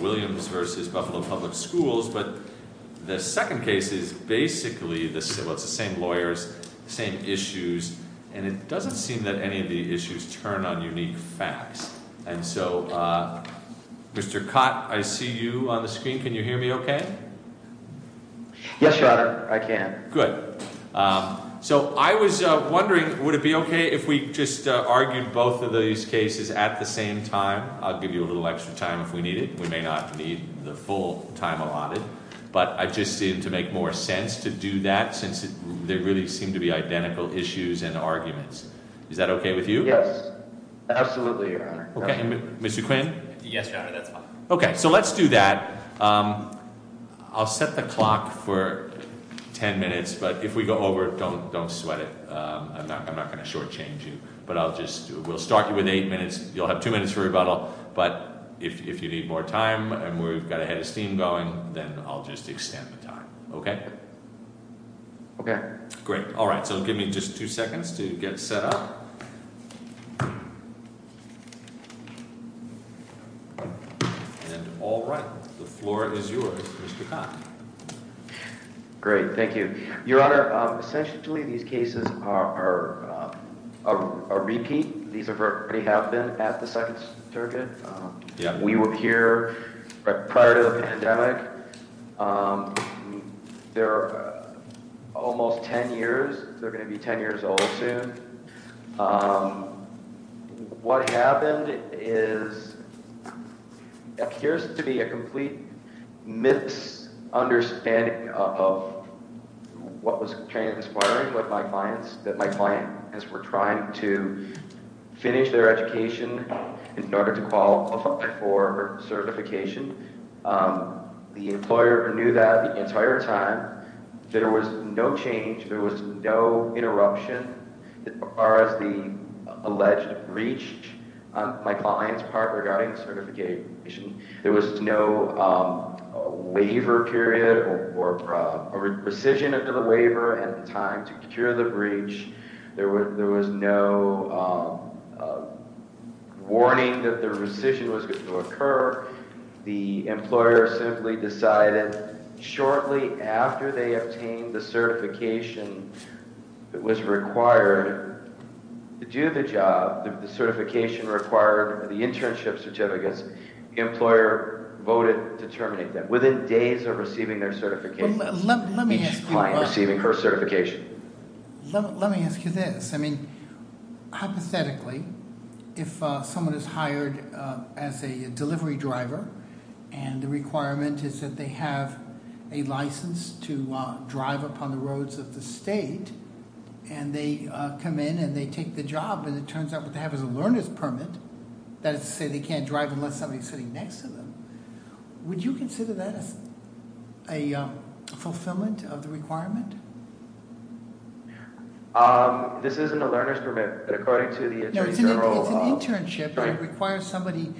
Williams v. Buffalo Public Schools, but the second case is basically the same lawyers, same issues, and it doesn't seem that any of the issues turn on unique facts. And so, Mr. Cott, I see you on the screen. Can you hear me okay? Yes, Your Honor, I can. Good. So I was wondering, would it be okay if we just argued both of these cases at the same time? I'll give you a little extra time if we need it. We may not need the full time allotted, but I just seem to make more sense to do that since there really seem to be identical issues and arguments. Is that okay with you? Yes, absolutely, Your Honor. Okay. Mr. Quinn? Yes, Your Honor, that's fine. Okay, so let's do that. I'll set the clock for ten minutes, but if we go over, don't don't sweat it. I'm not gonna shortchange you, but I'll just, we'll start you with eight minutes. You'll have two minutes for rebuttal. But if you need more time, and we've got a head of steam going, then I'll just extend the time. Okay? Okay. Great. All right, so give me just two seconds to get set up. And all right, the floor is yours, Mr. Cott. Great, thank you, Your Honor. Essentially, these cases are a repeat. These have already happened at the Second Circuit. We were here prior to the pandemic. They're almost ten years. They're going to be ten years. What was transparent with my clients, that my clients were trying to finish their education in order to qualify for certification. The employer knew that the entire time. There was no change. There was no interruption as far as the alleged breach on my client's part regarding certification. There was no waiver period or a rescission of the waiver at the time to cure the breach. There was no warning that the rescission was going to occur. The employer simply decided shortly after they obtained the certification that was required to do the job, the certification required, the internship certificates, the employer voted to terminate them. Within days of receiving their certification, each client receiving her certification. Let me ask you this. I mean, hypothetically, if someone is hired as a delivery driver, and the requirement is that they have a license to drive upon the roads of the state, and they come in and they take the job, and it turns out what they have is a learner's permit, that is to say they can't drive unless somebody is sitting next to them, would you consider that a fulfillment of the requirement? This isn't a learner's permit, but according to the Attorney General. It's an internship, it requires somebody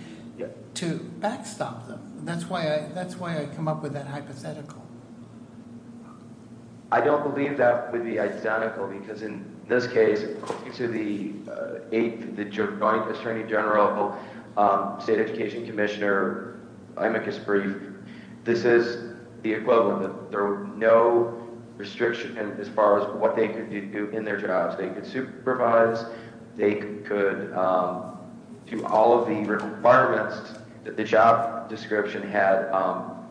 to backstop them. That's why I come up with that hypothetical. I don't know if you know this, but the Attorney General, State Education Commissioner, amicus brief, this is the equivalent. There was no restriction as far as what they could do in their jobs. They could supervise, they could do all of the requirements that the job description had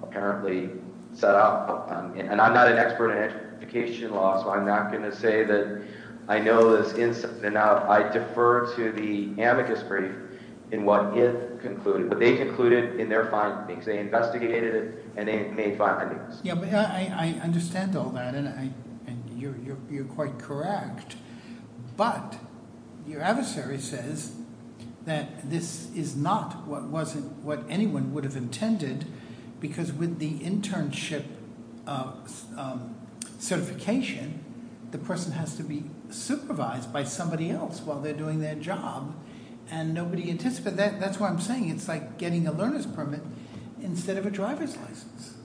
apparently set up. And I'm not an expert in amicus brief, in what if concluded, but they concluded in their findings. They investigated it, and they made findings. Yeah, but I understand all that, and you're quite correct, but your adversary says that this is not what anyone would have intended, because with the internship certification, the person has to be supervised by somebody else while they're doing their job, and nobody anticipated that. That's why I'm saying it's like getting a learner's permit instead of a driver's license.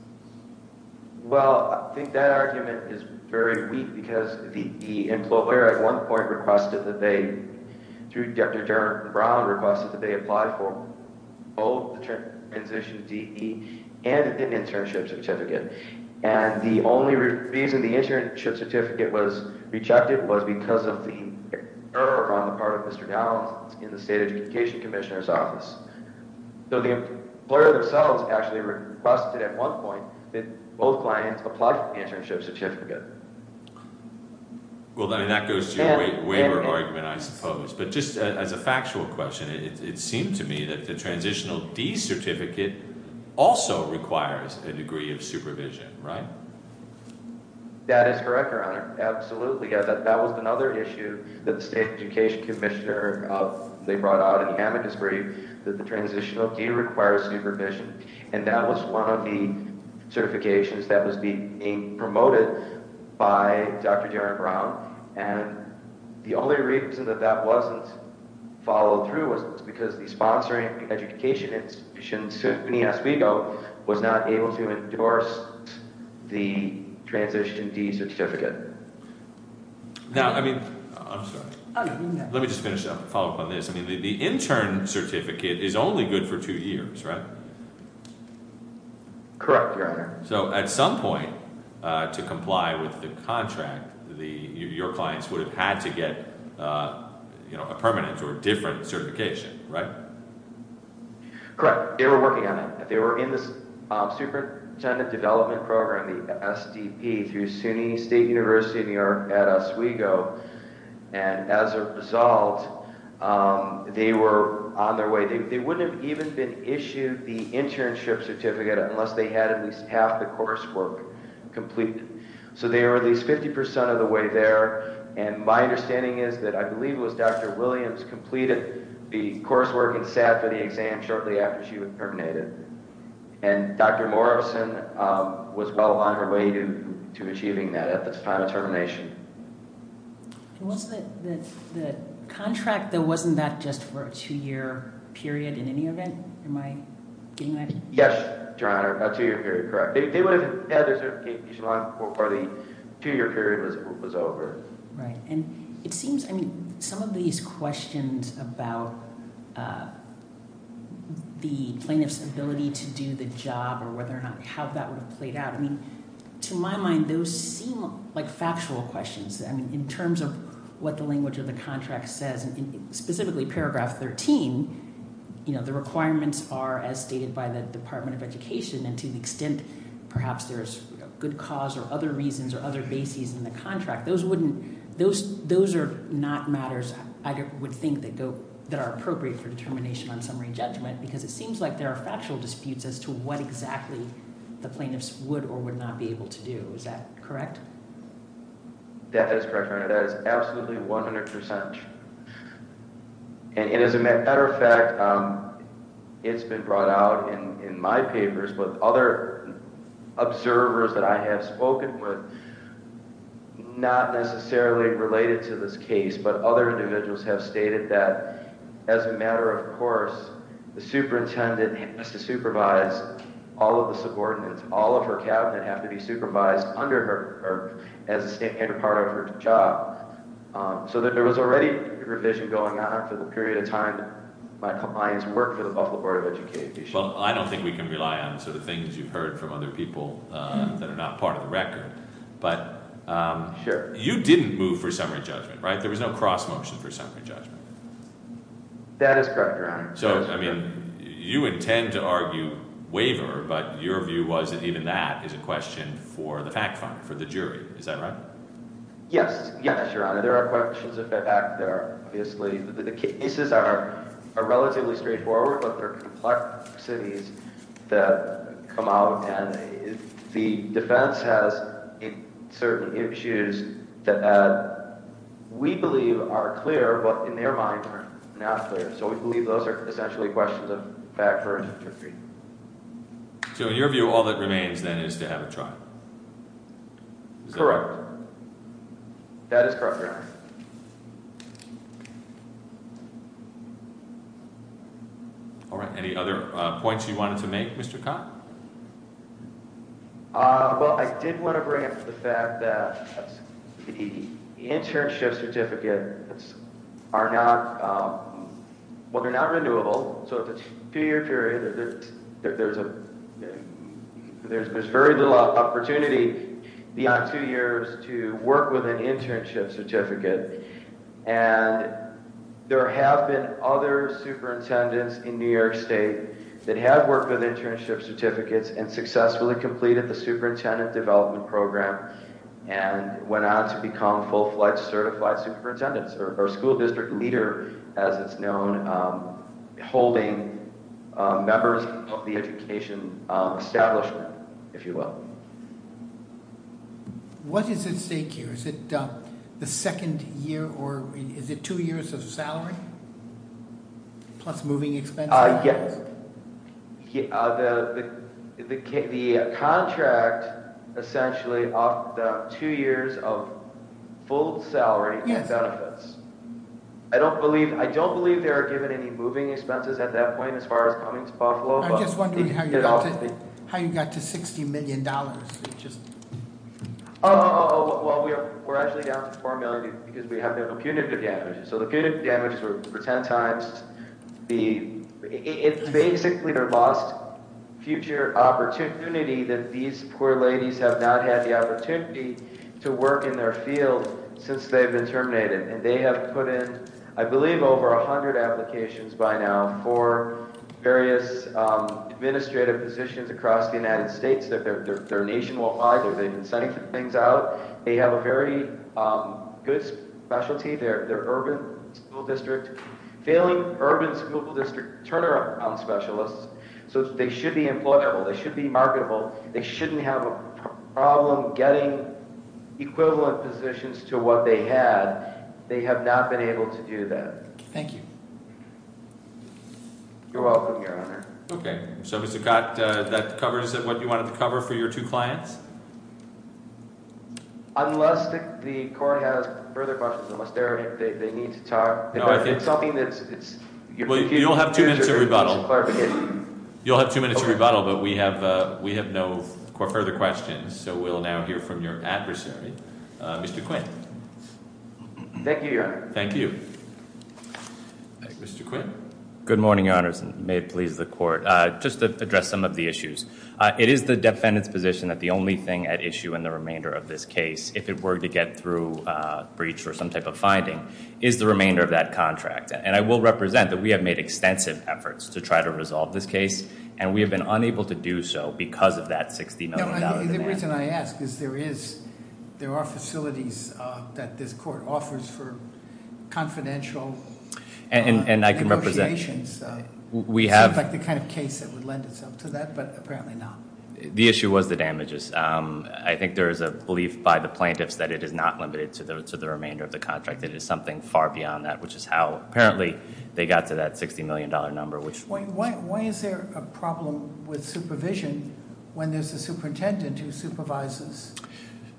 Well, I think that argument is very weak, because the employer at one point requested that they, through Dr. Brown, requested that they apply for both the transition to DE and an internship certificate was rejected was because of the error on the part of Mr. Downs in the State Education Commissioner's office. So the employer themselves actually requested at one point that both clients apply for the internship certificate. Well, that goes to your waiver argument, I suppose. But just as a factual question, it seemed to me that the transitional DE certificate also requires a degree of supervision, right? That is correct, Your Honor. Absolutely. That was another issue that the State Education Commissioner, they brought out in the amicus brief, that the transitional DE requires supervision, and that was one of the certifications that was being promoted by Dr. Jaron Brown, and the only reason that that wasn't followed through was because the sponsoring education institution, SUNY Oswego, was not able to endorse the transition DE certificate. Now, I mean, I'm sorry. Let me just finish up, follow up on this. I mean, the intern certificate is only good for two years, right? Correct, Your Honor. So at some point, to comply with the contract, your clients would have had to get a permanent or different certification, right? Correct. They were working on it. They were in the Superintendent Development Program, the SDP, through SUNY State University of New York at Oswego, and as a result, they were on their way. They wouldn't have even been issued the internship certificate unless they had at least half the coursework completed. So they were at least 50% of the way there, and my understanding is that I believe it was Dr. Williams completed the coursework and sat for the exam shortly after she was terminated, and Dr. Morrison was well on her way to achieving that at the time of termination. Was the contract, though, wasn't that just for a two-year period in any event? Am I getting that? Yes, Your Honor, a two-year period, correct. They would have had their certification on before the two-year period was over. Right, and it seems, I mean, some of these questions about the plaintiff's ability to do the job or whether or not, how that would have played out, I mean, to my mind, those seem like factual questions. I mean, in terms of what the language of the contract says, specifically paragraph 13, you know, the requirements are as stated by the Department of Education, and to the extent perhaps there's good cause or other reasons or other bases in the contract, those are not matters I would think that are appropriate for determination on summary judgment, because it seems like there are factual disputes as to what exactly the plaintiffs would or would not be able to do. Is that correct? That is correct, Your Honor. That is absolutely 100%. And as a matter of fact, it's been brought out in my papers with other observers that I have spoken with, not necessarily related to this case, but other individuals have stated that as a matter of course, the superintendent has to work as a standard part of her job. So there was already a revision going on for the period of time my clients worked for the Buffalo Board of Education. Well, I don't think we can rely on the sort of things you've heard from other people that are not part of the record, but you didn't move for summary judgment, right? There was no cross motion for summary judgment. That is correct, Your Honor. So, I mean, you intend to argue waiver, but your view was that even that is a question for the PAC Fund, for the jury. Is that right? Yes. Yes, Your Honor. There are questions of that back there, obviously. The cases are relatively straightforward, but there are complexities that come out, and the defense has certain issues that we believe are clear, but in their mind are not clear. So we believe those are essentially questions of back for interpreting. So in your view, all that remains then is to have a trial? All right. Any other points you wanted to make, Mr. Kahn? Well, I did want to bring up the fact that the internship certificates are not, well, they're not renewable. So if it's a two year period, there's very little opportunity beyond two years to work with an internship certificate, and there have been other superintendents in New York State that have worked with internship certificates and successfully completed the superintendent development program and went on to become full-fledged certified superintendent or school district leader, as it's known, holding members of the education establishment, if you will. What is at stake here? Is it the second year, or is it two years of salary plus moving expenses? Yes. The contract essentially off the two years of full salary and benefits. I don't believe there are given any moving expenses at that point as far as coming to Buffalo. I'm just wondering how you got to $60 million. Oh, well, we're actually down to $4 million because we have the punitive damages. So the punitive damages were 10 times the, it's basically their lost future opportunity that these poor ladies have not had the opportunity to work in their field since they've been terminated. And they have put in, I believe, over 100 applications by now for various administrative positions across the United States that their nation won't hire. They've been sending things out. They have a very good specialty. Their urban school district, failing urban school district turnaround specialists. So they should be employable. They should be marketable. They shouldn't have a problem getting equivalent positions to what they had. They have not been able to do that. You're welcome, Your Honor. Okay. So Mr. Cott, that covers what you wanted to cover for your two clients? Unless the court has further questions. Unless they need to talk. No, I think... You'll have two minutes of rebuttal. You'll have two minutes of rebuttal, but we have no further questions. So we'll now hear from your adversary, Mr. Quinn. Thank you, Your Honor. Thank you. Mr. Quinn? Good morning, Your Honors, and may it please the court. Just to address some of the issues. It is the defendant's position that the only thing at issue in the remainder of this case, if it were to get through breach or some type of finding, is the remainder of that contract. And I will represent that we have made extensive efforts to try to resolve this case, and we have been unable to do so because of that $60 million demand. The reason I ask is there are facilities that this court offers for confidential negotiations. It seems like the kind of case that would lend itself to that, but apparently not. The issue was the damages. I think there is a belief by the plaintiffs that it is not limited to the remainder of the contract. It is something far beyond that, which is how, apparently, they got to that $60 million number. Why is there a problem with supervision when there is a superintendent who supervises?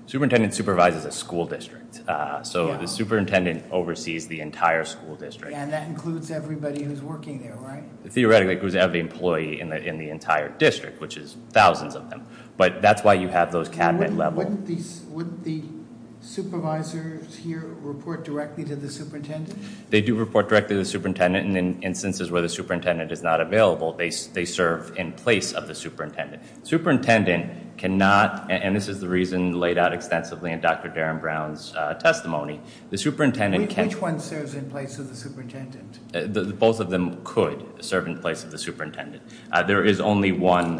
The superintendent supervises a school district. So the superintendent oversees the entire school district. And that includes everybody who is working there, right? Theoretically, it includes every employee in the entire district, which is thousands of them. But that is why you have those cabinet levels. And wouldn't the supervisors here report directly to the superintendent? They do report directly to the superintendent. And in instances where the superintendent is not available, they serve in place of the superintendent. Superintendent cannot, and this is the reason laid out extensively in Dr. Darren Brown's testimony. The superintendent can't- Which one serves in place of the superintendent? Both of them could serve in place of the superintendent. There is only one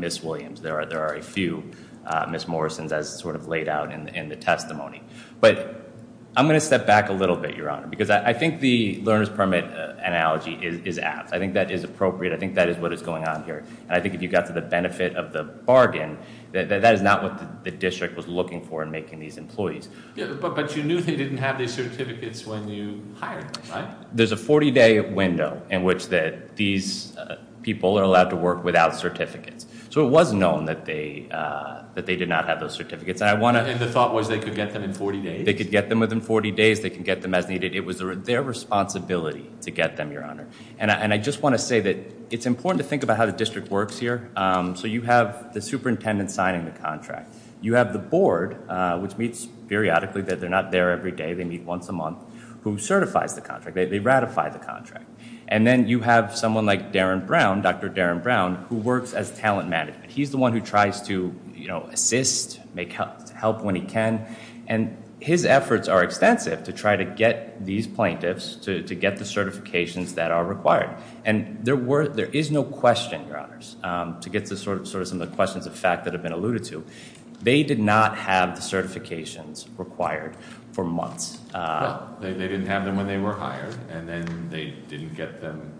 Miss Williams. There are a few Miss Morrisons, as sort of laid out in the testimony. But I'm going to step back a little bit, Your Honor, because I think the learner's permit analogy is apt. I think that is appropriate. I think that is what is going on here. And I think if you got to the benefit of the bargain, that is not what the district was looking for in making these employees. But you knew they didn't have these certificates when you hired them, right? There's a 40-day window in which these people are allowed to work without certificates. So it was known that they did not have those certificates. And the thought was they could get them in 40 days? They could get them within 40 days. They could get them as needed. It was their responsibility to get them, Your Honor. And I just want to say that it's important to think about how the district works here. So you have the superintendent signing the contract. You have the board, which meets periodically. They're not there every day. They meet once a month, who certifies the contract. They ratify the contract. And then you have someone like Darren Brown, Dr. Darren Brown, who works as talent management. He's the one who tries to assist, make help when he can. And his efforts are extensive to try to get these plaintiffs to get the certifications that are required. And there is no question, Your Honors, to get to sort of some of the questions of fact that have been alluded to. They did not have the certifications required for months. Well, they didn't have them when they were hired. And then they didn't get them,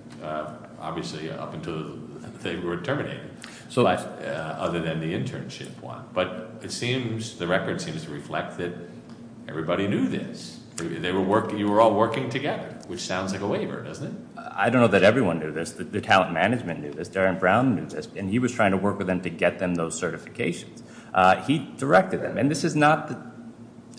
obviously, up until they were terminated. Other than the internship one. But it seems, the record seems to reflect that everybody knew this. You were all working together, which sounds like a waiver, doesn't it? I don't know that everyone knew this. The talent management knew this. Darren Brown knew this. And he was trying to work with them to get them those certifications. He directed them. And this is not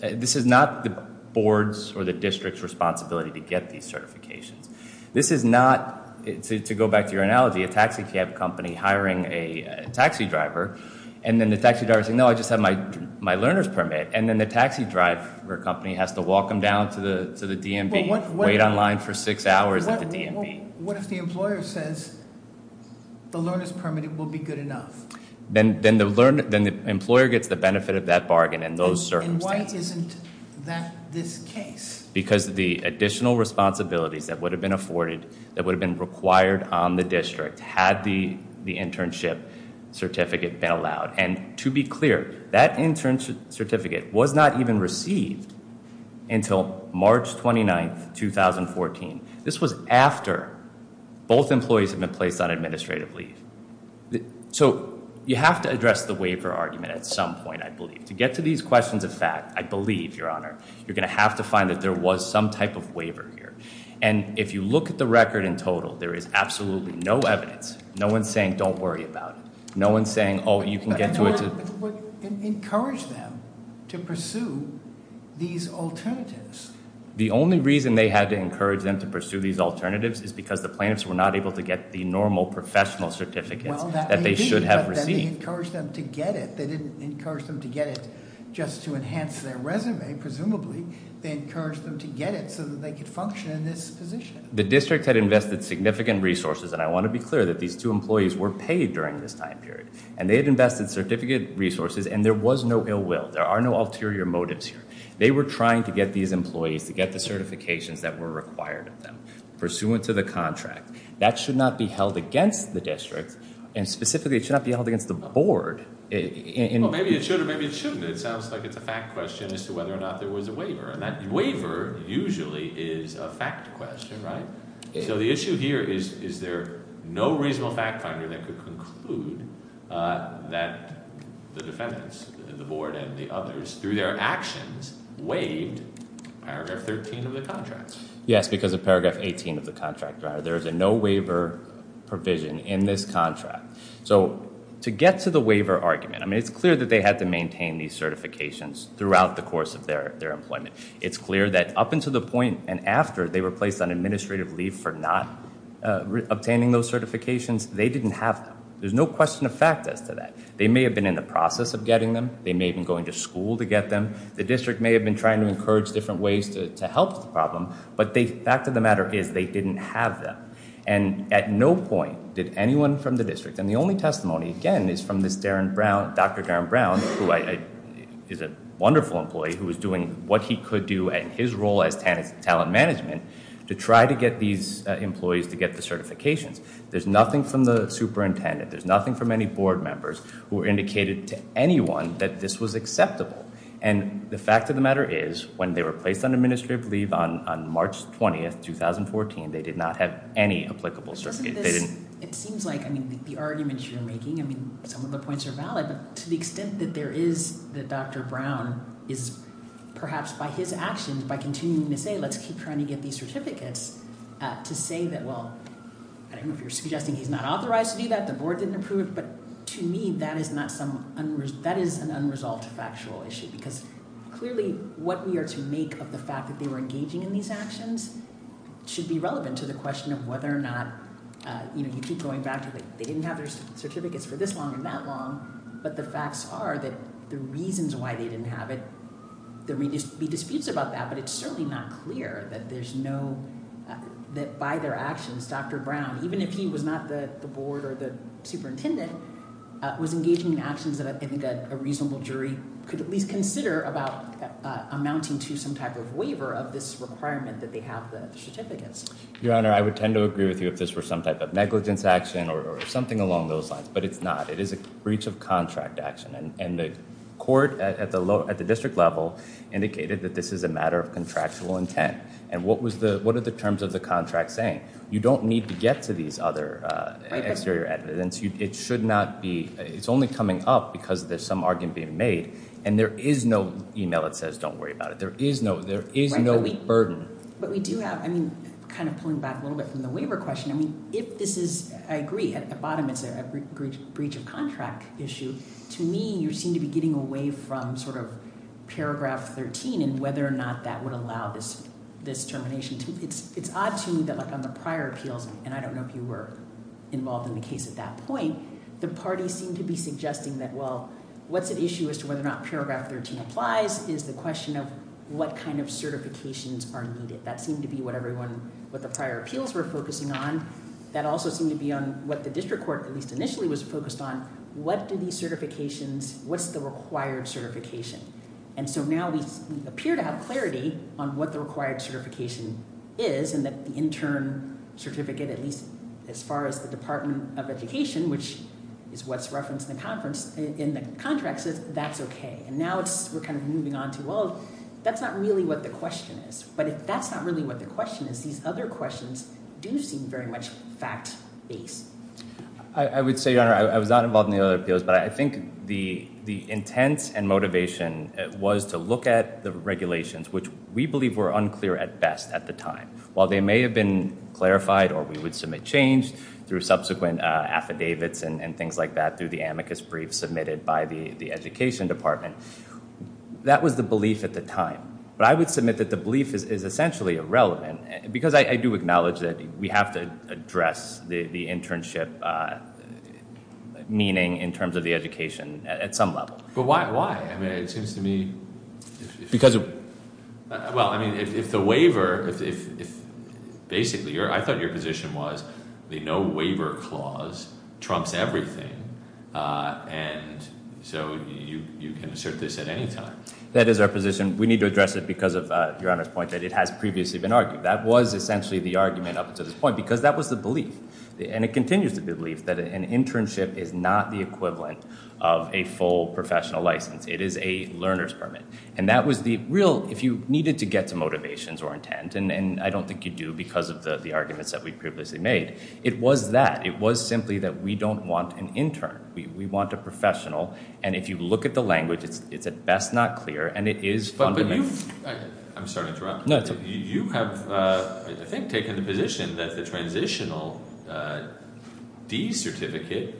the board's or the district's responsibility to get these certifications. This is not, to go back to your analogy, a taxi cab company hiring a taxi driver. And then the taxi driver's saying, no, I just have my learner's permit. And then the taxi driver company has to walk them down to the DMV, wait on line for six hours at the DMV. What if the employer says the learner's permit will be good enough? Then the employer gets the benefit of that bargain in those circumstances. And why isn't that this case? Because the additional responsibilities that would have been afforded, that would have been required on the district, had the internship certificate been allowed. And to be clear, that internship certificate was not even received until March 29th, 2014. This was after both employees had been placed on administrative leave. So you have to address the waiver argument at some point, I believe. To get to these questions of fact, I believe, Your Honor, you're going to have to find that there was some type of waiver here. And if you look at the record in total, there is absolutely no evidence. No one's saying, don't worry about it. No one's saying, oh, you can get to it. Encourage them to pursue these alternatives. The only reason they had to encourage them to pursue these alternatives is because the plaintiffs were not able to get the normal professional certificates that they should have received. Well, that may be, but then they encouraged them to get it. They didn't encourage them to get it just to enhance their resume, presumably. They encouraged them to get it so that they could function in this position. The district had invested significant resources, and I want to be clear that these two employees were paid during this time period. And they had invested certificate resources, and there was no ill will. There are no ulterior motives here. They were trying to get these employees to get the certifications that were required of them, pursuant to the contract. That should not be held against the district, and specifically, it should not be held against the board. Well, maybe it should or maybe it shouldn't. It sounds like it's a fact question as to whether or not there was a waiver. And that waiver usually is a fact question, right? So the issue here is, is there no reasonable fact finder that could conclude that the defendants, the board and the others, through their actions, waived paragraph 13 of the contract? Yes, because of paragraph 18 of the contract. There is a no waiver provision in this contract. So to get to the waiver argument, I mean, it's clear that they had to maintain these certifications throughout the course of their employment. It's clear that up until the point and after they were placed on administrative leave for not obtaining those certifications, they didn't have them. There's no question of fact as to that. They may have been in the process of getting them. They may have been going to school to get them. The district may have been trying to encourage different ways to help the problem. But the fact of the matter is they didn't have them. And at no point did anyone from the district, and the only testimony, again, is from this Dr. Darren Brown, who is a wonderful employee who was doing what he could do in his role as talent management, to try to get these employees to get the certifications. There's nothing from the superintendent. There's nothing from any board members who indicated to anyone that this was acceptable. And the fact of the matter is, when they were placed on administrative leave on March 20, 2014, they did not have any applicable certificate. It seems like, I mean, the arguments you're making, some of the points are valid, but to the extent that there is that Dr. Brown is, perhaps by his actions, by continuing to say, let's keep trying to get these certificates, to say that, well, I don't know if you're suggesting he's not authorized to do that, the board didn't approve, but to me, that is an unresolved factual issue. Because clearly, what we are to make of the fact that they were engaging in these actions should be relevant to the question of whether or not, you know, you keep going back to, like, they didn't have their certificates for this long and that long, but the facts are that the reasons why they didn't have it, there may be disputes about that, but it's certainly not clear that there's no, that by their actions, Dr. Brown, even if he was not the board or the superintendent, was engaging in actions that I think a reasonable jury could at least consider about amounting to some type of waiver of this requirement that they have the certificates. Your Honor, I would tend to agree with you if this were some type of negligence action or something along those lines, but it's not. It is a breach of contract action, and the court at the district level indicated that this is a matter of contractual intent, and what are the terms of the contract saying? You don't need to get to these other exterior evidence. It should not be, it's only coming up because there's some argument being made, and there is no email that says don't worry about it. There is no burden. But we do have, I mean, kind of pulling back a little bit from the waiver question, I mean, if this is, I agree, at the bottom it's a breach of contract issue. To me, you seem to be getting away from sort of paragraph 13 and whether or not that would allow this termination. It's odd to me that on the prior appeals, and I don't know if you were involved in the case at that point, the parties seem to be suggesting that, well, what's at issue as to whether or not paragraph 13 applies is the question of what kind of certifications are needed. That seemed to be what the prior appeals were focusing on. That also seemed to be on what the district court, at least initially, was focused on. What's the required certification? And so now we appear to have clarity on what the required certification is, and that the intern certificate, at least as far as the Department of Education, which is what's referenced in the contract, says that's okay. And now we're kind of moving on to, well, that's not really what the question is. But if that's not really what the question is, these other questions do seem very much fact-based. I would say, Your Honor, I was not involved in the other appeals, but I think the intent and motivation was to look at the regulations, which we believe were unclear at best at the time. While they may have been clarified or we would submit change through subsequent affidavits and things like that, through the amicus brief submitted by the Education Department, that was the belief at the time. But I would submit that the belief is essentially irrelevant, because I do acknowledge that we have to address the internship meaning in terms of the education at some level. But why? I mean, it seems to me... Because of... Well, I mean, if the waiver... Basically, I thought your position was the no-waiver clause trumps everything, and so you can assert this at any time. That is our position. We need to address it because of, Your Honor's point, that it has previously been argued. That was essentially the argument up until this point, because that was the belief. And it continues to be the belief that an internship is not the equivalent of a full professional license. It is a learner's permit. And that was the real... If you needed to get some motivations or intent, and I don't think you do because of the arguments that we previously made, it was that. It was simply that we don't want an intern. We want a professional, and if you look at the language, it's at best not clear, and it is fundamentally... I'm sorry to interrupt. You have, I think, taken the position that the transitional D certificate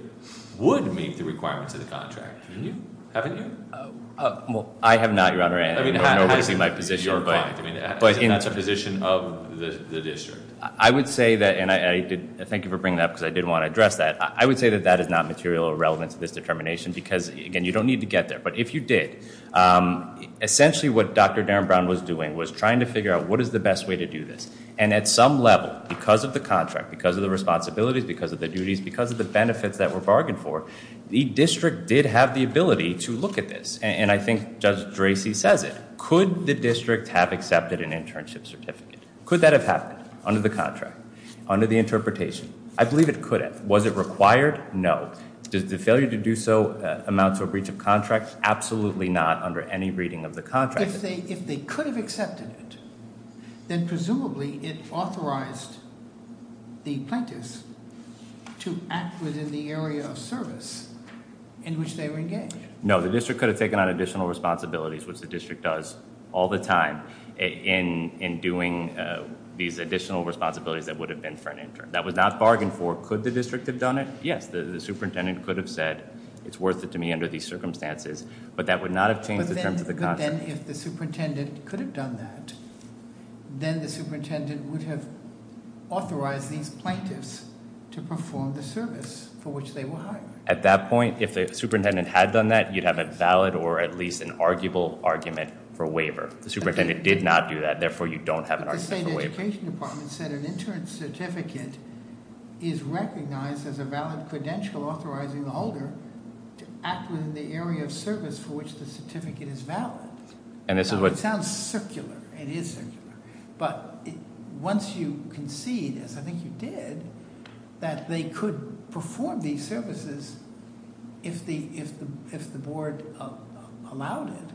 would meet the requirements of the contract. Haven't you? Well, I have not, Your Honor, and no one has seen my position. That's a position of the district. I would say that, and I thank you for bringing that up because I did want to address that. I would say that that is not material or relevant to this determination because, again, you don't need to get there. But if you did, essentially what Dr. Darren Brown was doing was trying to figure out what is the best way to do this. And at some level, because of the contract, because of the responsibilities, because of the duties, because of the benefits that were bargained for, the district did have the ability to look at this. And I think Judge Dracy says it. Could the district have accepted an internship certificate? Could that have happened under the contract? Under the interpretation? I believe it could have. Was it required? No. Does the failure to do so amount to a breach of contract? Absolutely not under any reading of the contract. If they could have accepted it, then presumably it authorized the plaintiffs to act within the area of service in which they were engaged. No, the district could have taken on additional responsibilities, which the district does all the time in doing these additional responsibilities that would have been for an intern. That was not bargained for. Could the district have done it? Yes, the superintendent could have said, it's worth it to me under these circumstances, but that would not have changed the terms of the contract. But then if the superintendent could have done that, then the superintendent would have authorized these plaintiffs to perform the service for which they were hired. At that point, if the superintendent had done that, you'd have a valid or at least an arguable argument for a waiver. The superintendent did not do that, therefore you don't have an argument for a waiver. But the state education department said an intern certificate is recognized as a valid credential authorizing the holder to act within the area of service for which the certificate is valid. It sounds circular. It is circular. But once you concede, as I think you did, that they could perform these services if the board allowed it,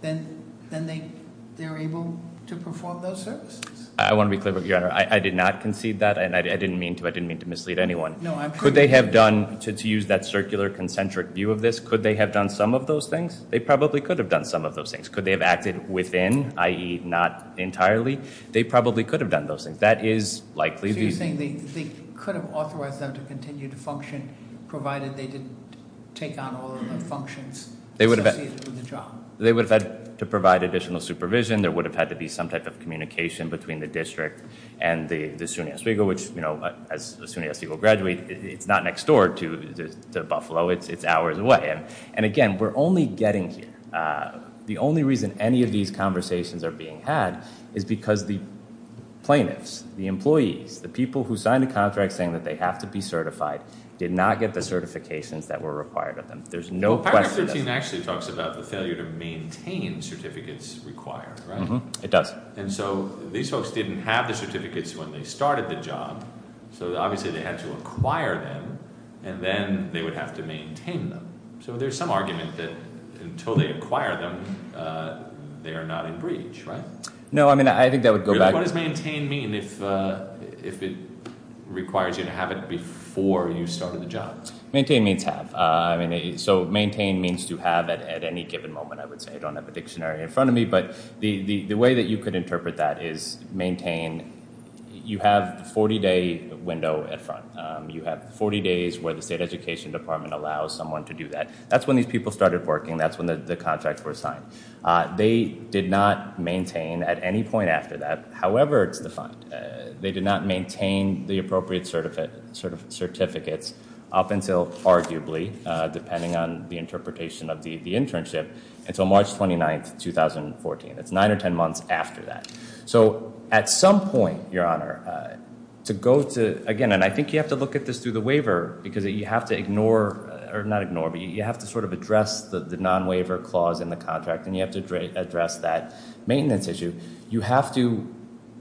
then they're able to perform those services. I want to be clear, Your Honor. I did not concede that, and I didn't mean to mislead anyone. Could they have done, to use that circular, concentric view of this, could they have done some of those things? They probably could have done some of those things. Could they have acted within, i.e. not entirely? They probably could have done those things. So you're saying they could have authorized them to continue to function provided they didn't take on all of the functions associated with the job? They would have had to provide additional supervision. There would have had to be some type of communication between the district and the SUNY Oswego, which, as a SUNY Oswego graduate, it's not next door to Buffalo. It's hours away. And again, we're only getting here. The only reason any of these conversations are being had is because the plaintiffs, the employees, the people who signed the contract saying that they have to be certified did not get the certifications that were required of them. The paragraph 13 actually talks about the failure to maintain certificates required, right? It does. And so these folks didn't have the certificates when they started the job. So obviously they had to acquire them and then they would have to maintain them. So there's some argument that until they acquire them they are not in breach, right? No, I mean, I think that would go back... What does maintain mean if it requires you to have it before you started the job? Maintain means have. So maintain means to have at any given moment, I would say. I don't have a dictionary in front of me. But the way that you could interpret that is maintain... You have the 40-day window in front. You have 40 days where the State Education Department allows someone to do that. That's when these people started working. That's when the contracts were signed. They did not maintain at any point after that, however it's defined. They did not maintain the appropriate certificates up until arguably, depending on the interpretation of the internship, until March 29, 2014. It's nine or ten months after that. So at some point, Your Honor, to go to... Again, and I think you have to look at this through the waiver because you have to ignore... Or not ignore, but you have to sort of address the non-waiver clause in the contract and you have to address that maintenance issue. You have to...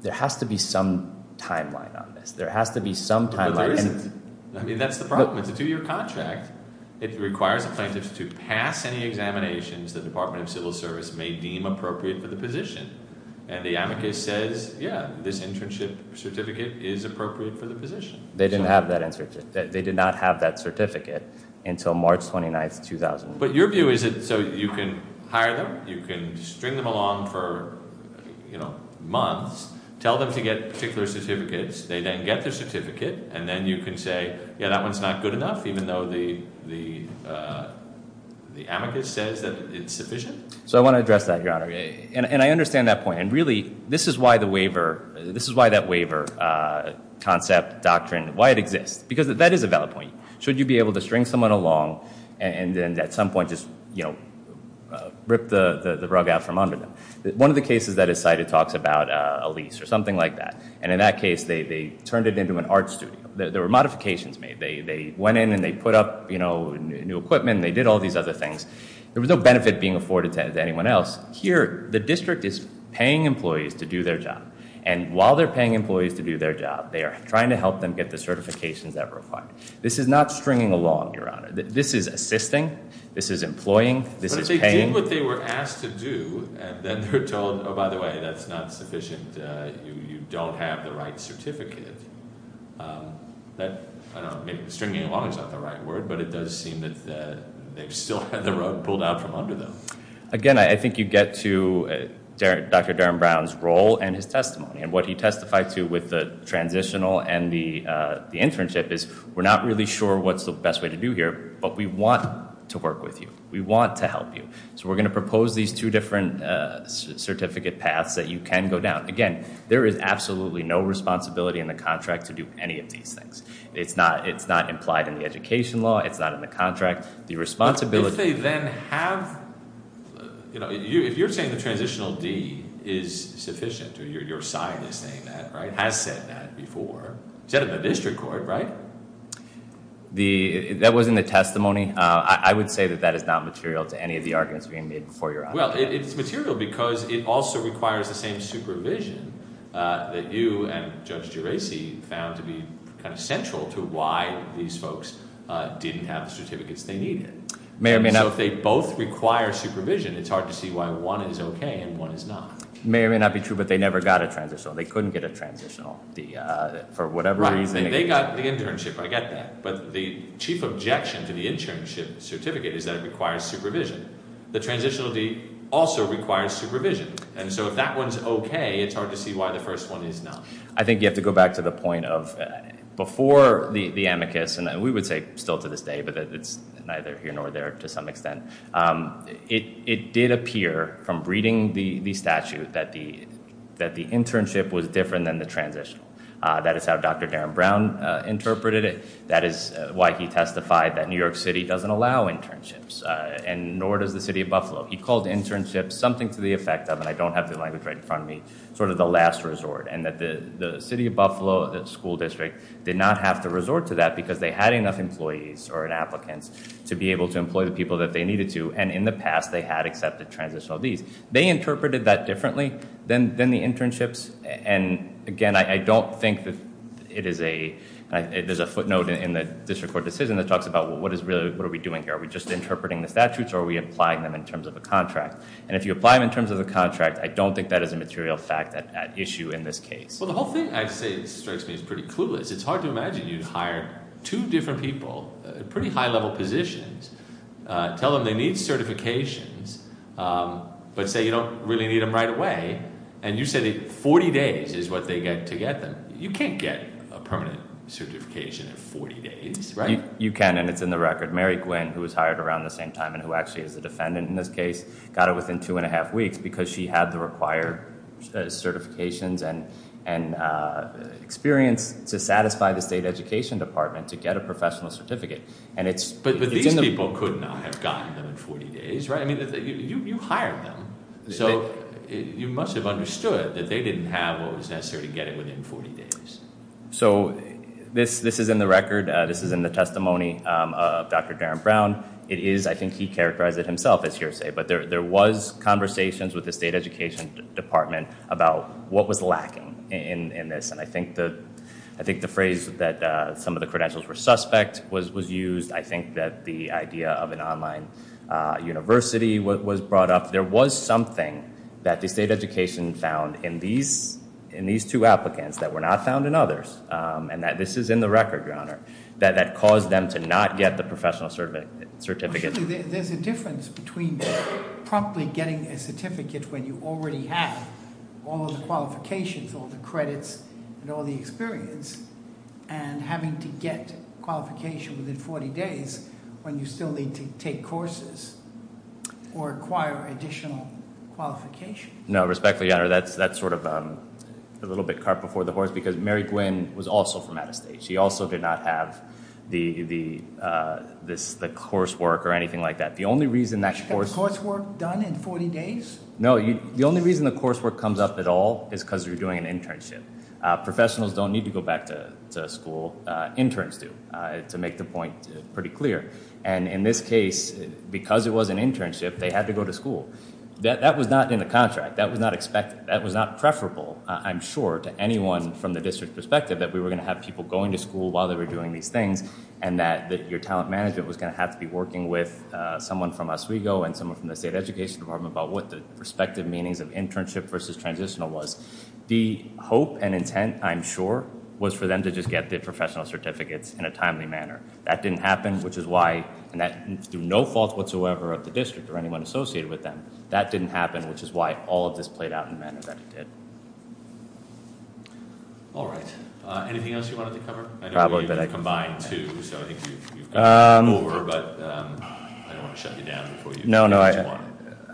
There has to be some timeline on this. There has to be some timeline. There isn't. I mean, that's the problem. It's a two-year contract. It requires the plaintiffs to pass any examinations the Department of Civil Service may deem appropriate for the position. And the amicus says, yeah, this internship certificate is appropriate for the position. They did not have that certificate until March 29, 2014. But your view is that you can hire them, you can string them along for months, tell them to get particular certificates, they then get their certificate, and then you can say, yeah, that one's not good enough, even though the amicus says that it's sufficient? So I want to address that, Your Honor. And I understand that point. And really, this is why the waiver... This is why that waiver concept, doctrine, why it exists. Because that is a valid point. Should you be able to string someone along and then at some point just rip the rug out from under them? One of the cases that is cited talks about a lease or something like that. And in that case, they turned it into an art studio. There were modifications made. They went in and they put up new equipment and they did all these other things. There was no benefit being afforded to anyone else. Here, the district is paying employees to do their job. And while they're paying employees to do their job, they are trying to help them get the certifications that were required. This is not stringing along, Your Honor. This is assisting. This is employing. This is paying. But if they did what they were asked to do, and then they're told, oh, by the way, that's not sufficient. You don't have the right certificate. Stringing along is not the right word, but it does seem that they've still had the rug pulled out from under them. Again, I think you get to Dr. Darren Brown's role and his testimony. And what he testified to with the transitional and the internship is, we're not really sure what's the best way to do here, but we want to work with you. We want to help you. So we're going to propose these two different certificate paths that you can go down. Again, there is absolutely no responsibility in the contract to do any of these things. It's not implied in the education law. It's not in the contract. The responsibility... But if they then have... If you're saying the transitional D is sufficient, your side is saying that, right? Has said that before. Said it in the district court, right? That was in the testimony. I would say that that is not material to any of the arguments being made before your honor. Well, it's material because it also requires the same supervision that you and Judge Geraci found to be central to why these folks didn't have the certificates they needed. So if they both require supervision, it's hard to see why one is OK and one is not. It may or may not be true, but they never got a transitional. They couldn't get a transitional for whatever reason. They got the internship. I get that. But the chief objection to the internship certificate is that it requires supervision. The transitional D also requires supervision. And so if that one's OK, it's hard to see why the first one is not. I think you have to go back to the point of... Before the amicus, and we would say still to this day, but it's neither here nor there to some extent, it did appear from reading the statute that the internship was different than the transitional. That is how Dr. Darren Brown interpreted it. That is why he testified that New York City doesn't allow internships, and nor does the city of Buffalo. He called internships something to the effect of, and I don't have the language right in front of me, sort of the last resort, and that the city of Buffalo school district did not have to to be able to employ the people that they needed to. And in the past, they had accepted transitional Ds. They interpreted that differently than the internships. And again, I don't think that it is a... There's a footnote in the district court decision that talks about what are we doing here? Are we just interpreting the statutes, or are we applying them in terms of a contract? And if you apply them in terms of a contract, I don't think that is a material fact at issue in this case. Well, the whole thing, I'd say, strikes me as pretty clueless. It's hard to imagine you'd hire two different people at pretty high-level positions, tell them they need certifications, but say you don't really need them right away, and you say that 40 days is what they get to get them. You can't get a permanent certification in 40 days, right? You can, and it's in the record. Mary Gwinn, who was hired around the same time and who actually is the defendant in this case, got it within two and a half weeks because she had the required certifications and experience to satisfy the State Education Department to get a professional certificate. But these people could not have gotten them in 40 days, right? You hired them, so you must have understood that they didn't have what was necessary to get it within 40 days. So this is in the record. This is in the testimony of Dr. Darren Brown. I think he characterized it himself as hearsay, but there was conversations with the State Education Department about what was lacking in this, and I think the phrase that some of the credentials were suspect was used. I think that the idea of an online university was brought up. There was something that the State Education found in these two applicants that were not found in others, and this is in the record, Your Honor, that caused them to not get the professional certificate. There's a difference between promptly getting a certificate when you already have all of the qualifications, all the credits, and all the experience, and having to get a qualification within 40 days when you still need to take courses or acquire additional qualifications. No, respectfully, Your Honor, that's sort of a little bit cart before the horse because Mary Gwinn was also from out of state. She also did not have the coursework or anything like that. She got the coursework done in 40 days? No, the only reason the coursework comes up at all is because you're doing an internship. Professionals don't need to go back to school. Interns do, to make the point pretty clear. And in this case, because it was an internship, they had to go to school. That was not in the contract. That was not preferable, I'm sure, to anyone from the district perspective that we were going to have people going to school while they were doing these things, and that your talent management was going to have to be working with someone from Oswego and someone from the State Education Department about what the respective meanings of internship versus transitional was. The hope and intent, I'm sure, was for them to just get the professional certificates in a timely manner. That didn't happen, which is why, and through no fault whatsoever of the district or anyone associated with them, that didn't happen, which is why all of this played out in the manner that it did. All right. Anything else you wanted to cover? I know you've combined two, so I think you've covered them all over, but I don't want to shut you down before you get to one. No, no,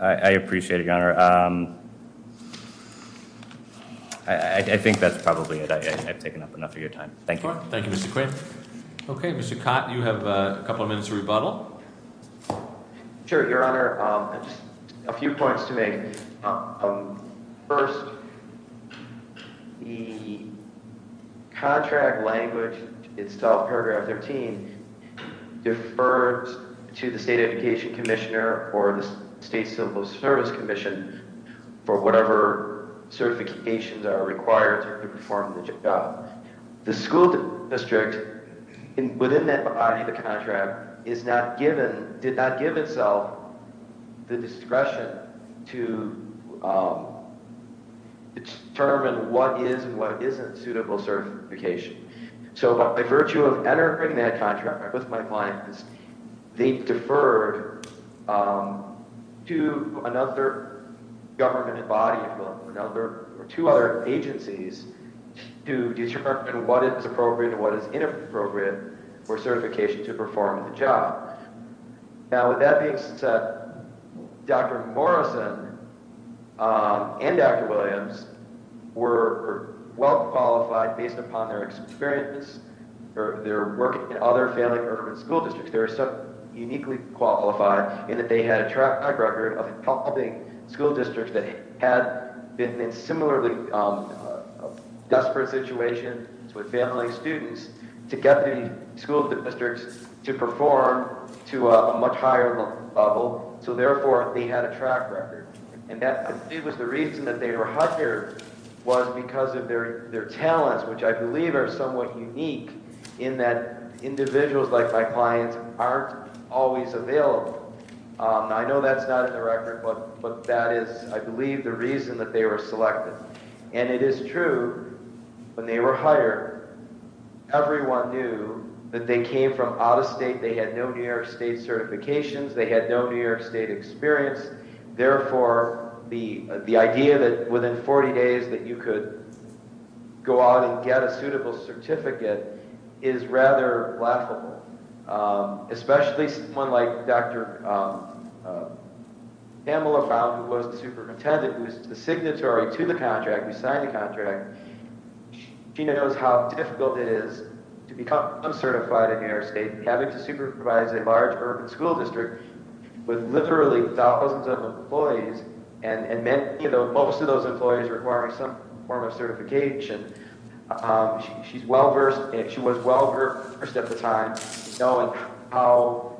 I appreciate it, Your Honor. I think that's probably it. I've taken up enough of your time. Thank you. Thank you, Mr. Quinn. Okay, Mr. Cott, you have a couple of minutes to rebuttal. Sure, Your Honor. I just have a few points to make. First, the contract language itself, paragraph 13, deferred to the State Education Commissioner or the State Civil Service Commission for whatever certifications are required The school district, within that body of the contract, did not give itself the discretion to determine what is and what isn't suitable certification. By virtue of entering that contract with my clients, they deferred to another government body or two other agencies to determine what is appropriate and what is inappropriate for certification to perform the job. Now, with that being said, Dr. Morrison and Dr. Williams were well-qualified based upon their experience or their work in other family urban school districts. They were so uniquely qualified in that they had a track record of helping school districts that had been in similarly desperate situations with family and students to get the school districts to perform to a much higher level. Therefore, they had a track record. It was the reason that they were hired was because of their talents, which I believe are somewhat unique in that individuals like my clients aren't always available. I know that's not in the record, but that is, I believe, the reason that they were selected. And it is true, when they were hired, everyone knew that they came from out of state. They had no New York State certifications. They had no New York State experience. Therefore, the idea that within 40 days that you could go out and get a suitable certificate is rather laughable, especially someone like Dr. Pamela Found who was the superintendent who was the signatory to the contract. We signed the contract. She knows how difficult it is to become uncertified in New York State having to supervise a large urban school district with literally thousands of employees and most of those employees requiring some form of certification. She was well-versed at the time in knowing how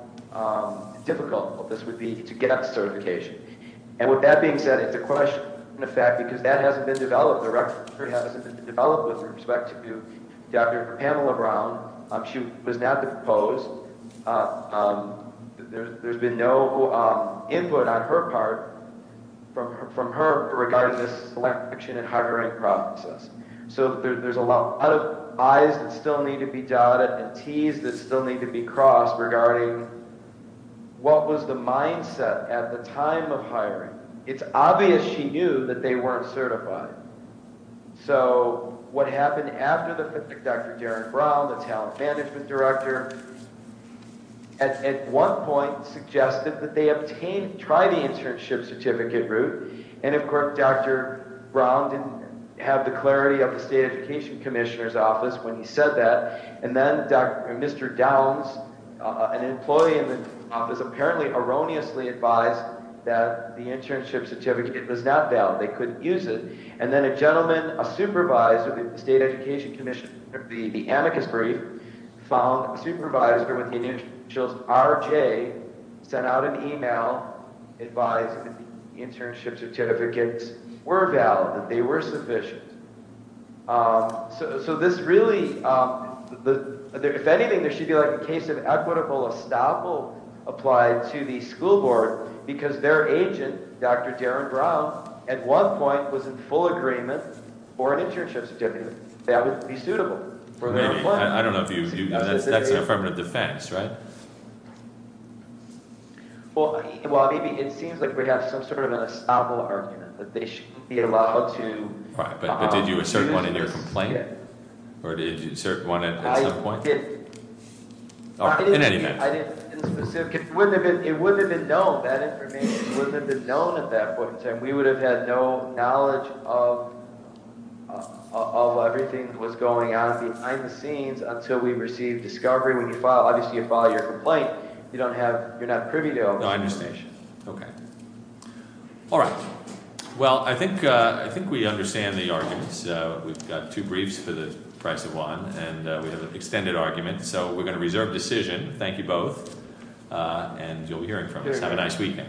difficult this would be to get a certification. And with that being said, it's a question of fact because that hasn't been developed. The record hasn't been developed with respect to Dr. Pamela Brown. She was not the proposed. There's been no input on her part from her regarding this selection and hiring process. So there's a lot of I's that still need to be dotted and T's that still need to be crossed regarding what was the mindset at the time of hiring. It's obvious she knew that they weren't certified. So what happened after Dr. Darren Brown, the talent management director, at one point suggested that they try the internship certificate route and of course Dr. Brown didn't have the clarity of the state education commissioner's office when he said that and then Mr. Downs, an employee in the office, apparently erroneously advised that the internship certificate was not valid. They couldn't use it and then a gentleman, a supervisor of the state education commission, the amicus brief, found a supervisor with the initials RJ sent out an email advising that the internship certificates were valid, that they were sufficient. So this really, if anything, there should be a case of equitable estoppel applied to the school board because their agent, Dr. Darren Brown, at one point was in full agreement for an internship certificate that would be suitable for their employment. That's an affirmative defense, right? Well, maybe it seems like we have some sort of an estoppel argument that they should be allowed to... But did you assert one in your complaint? Or did you assert one at some point? I didn't. It wouldn't have been known at that point in time. We would have had no knowledge of everything that was going on behind the scenes until we received discovery. Obviously, if you file your complaint, you're not privy to... No, I understand. Well, I think we understand the arguments. We've got two briefs for the price of one and we have an extended argument, so we're going to reserve decision. Thank you both, and you'll be hearing from us. Have a nice weekend.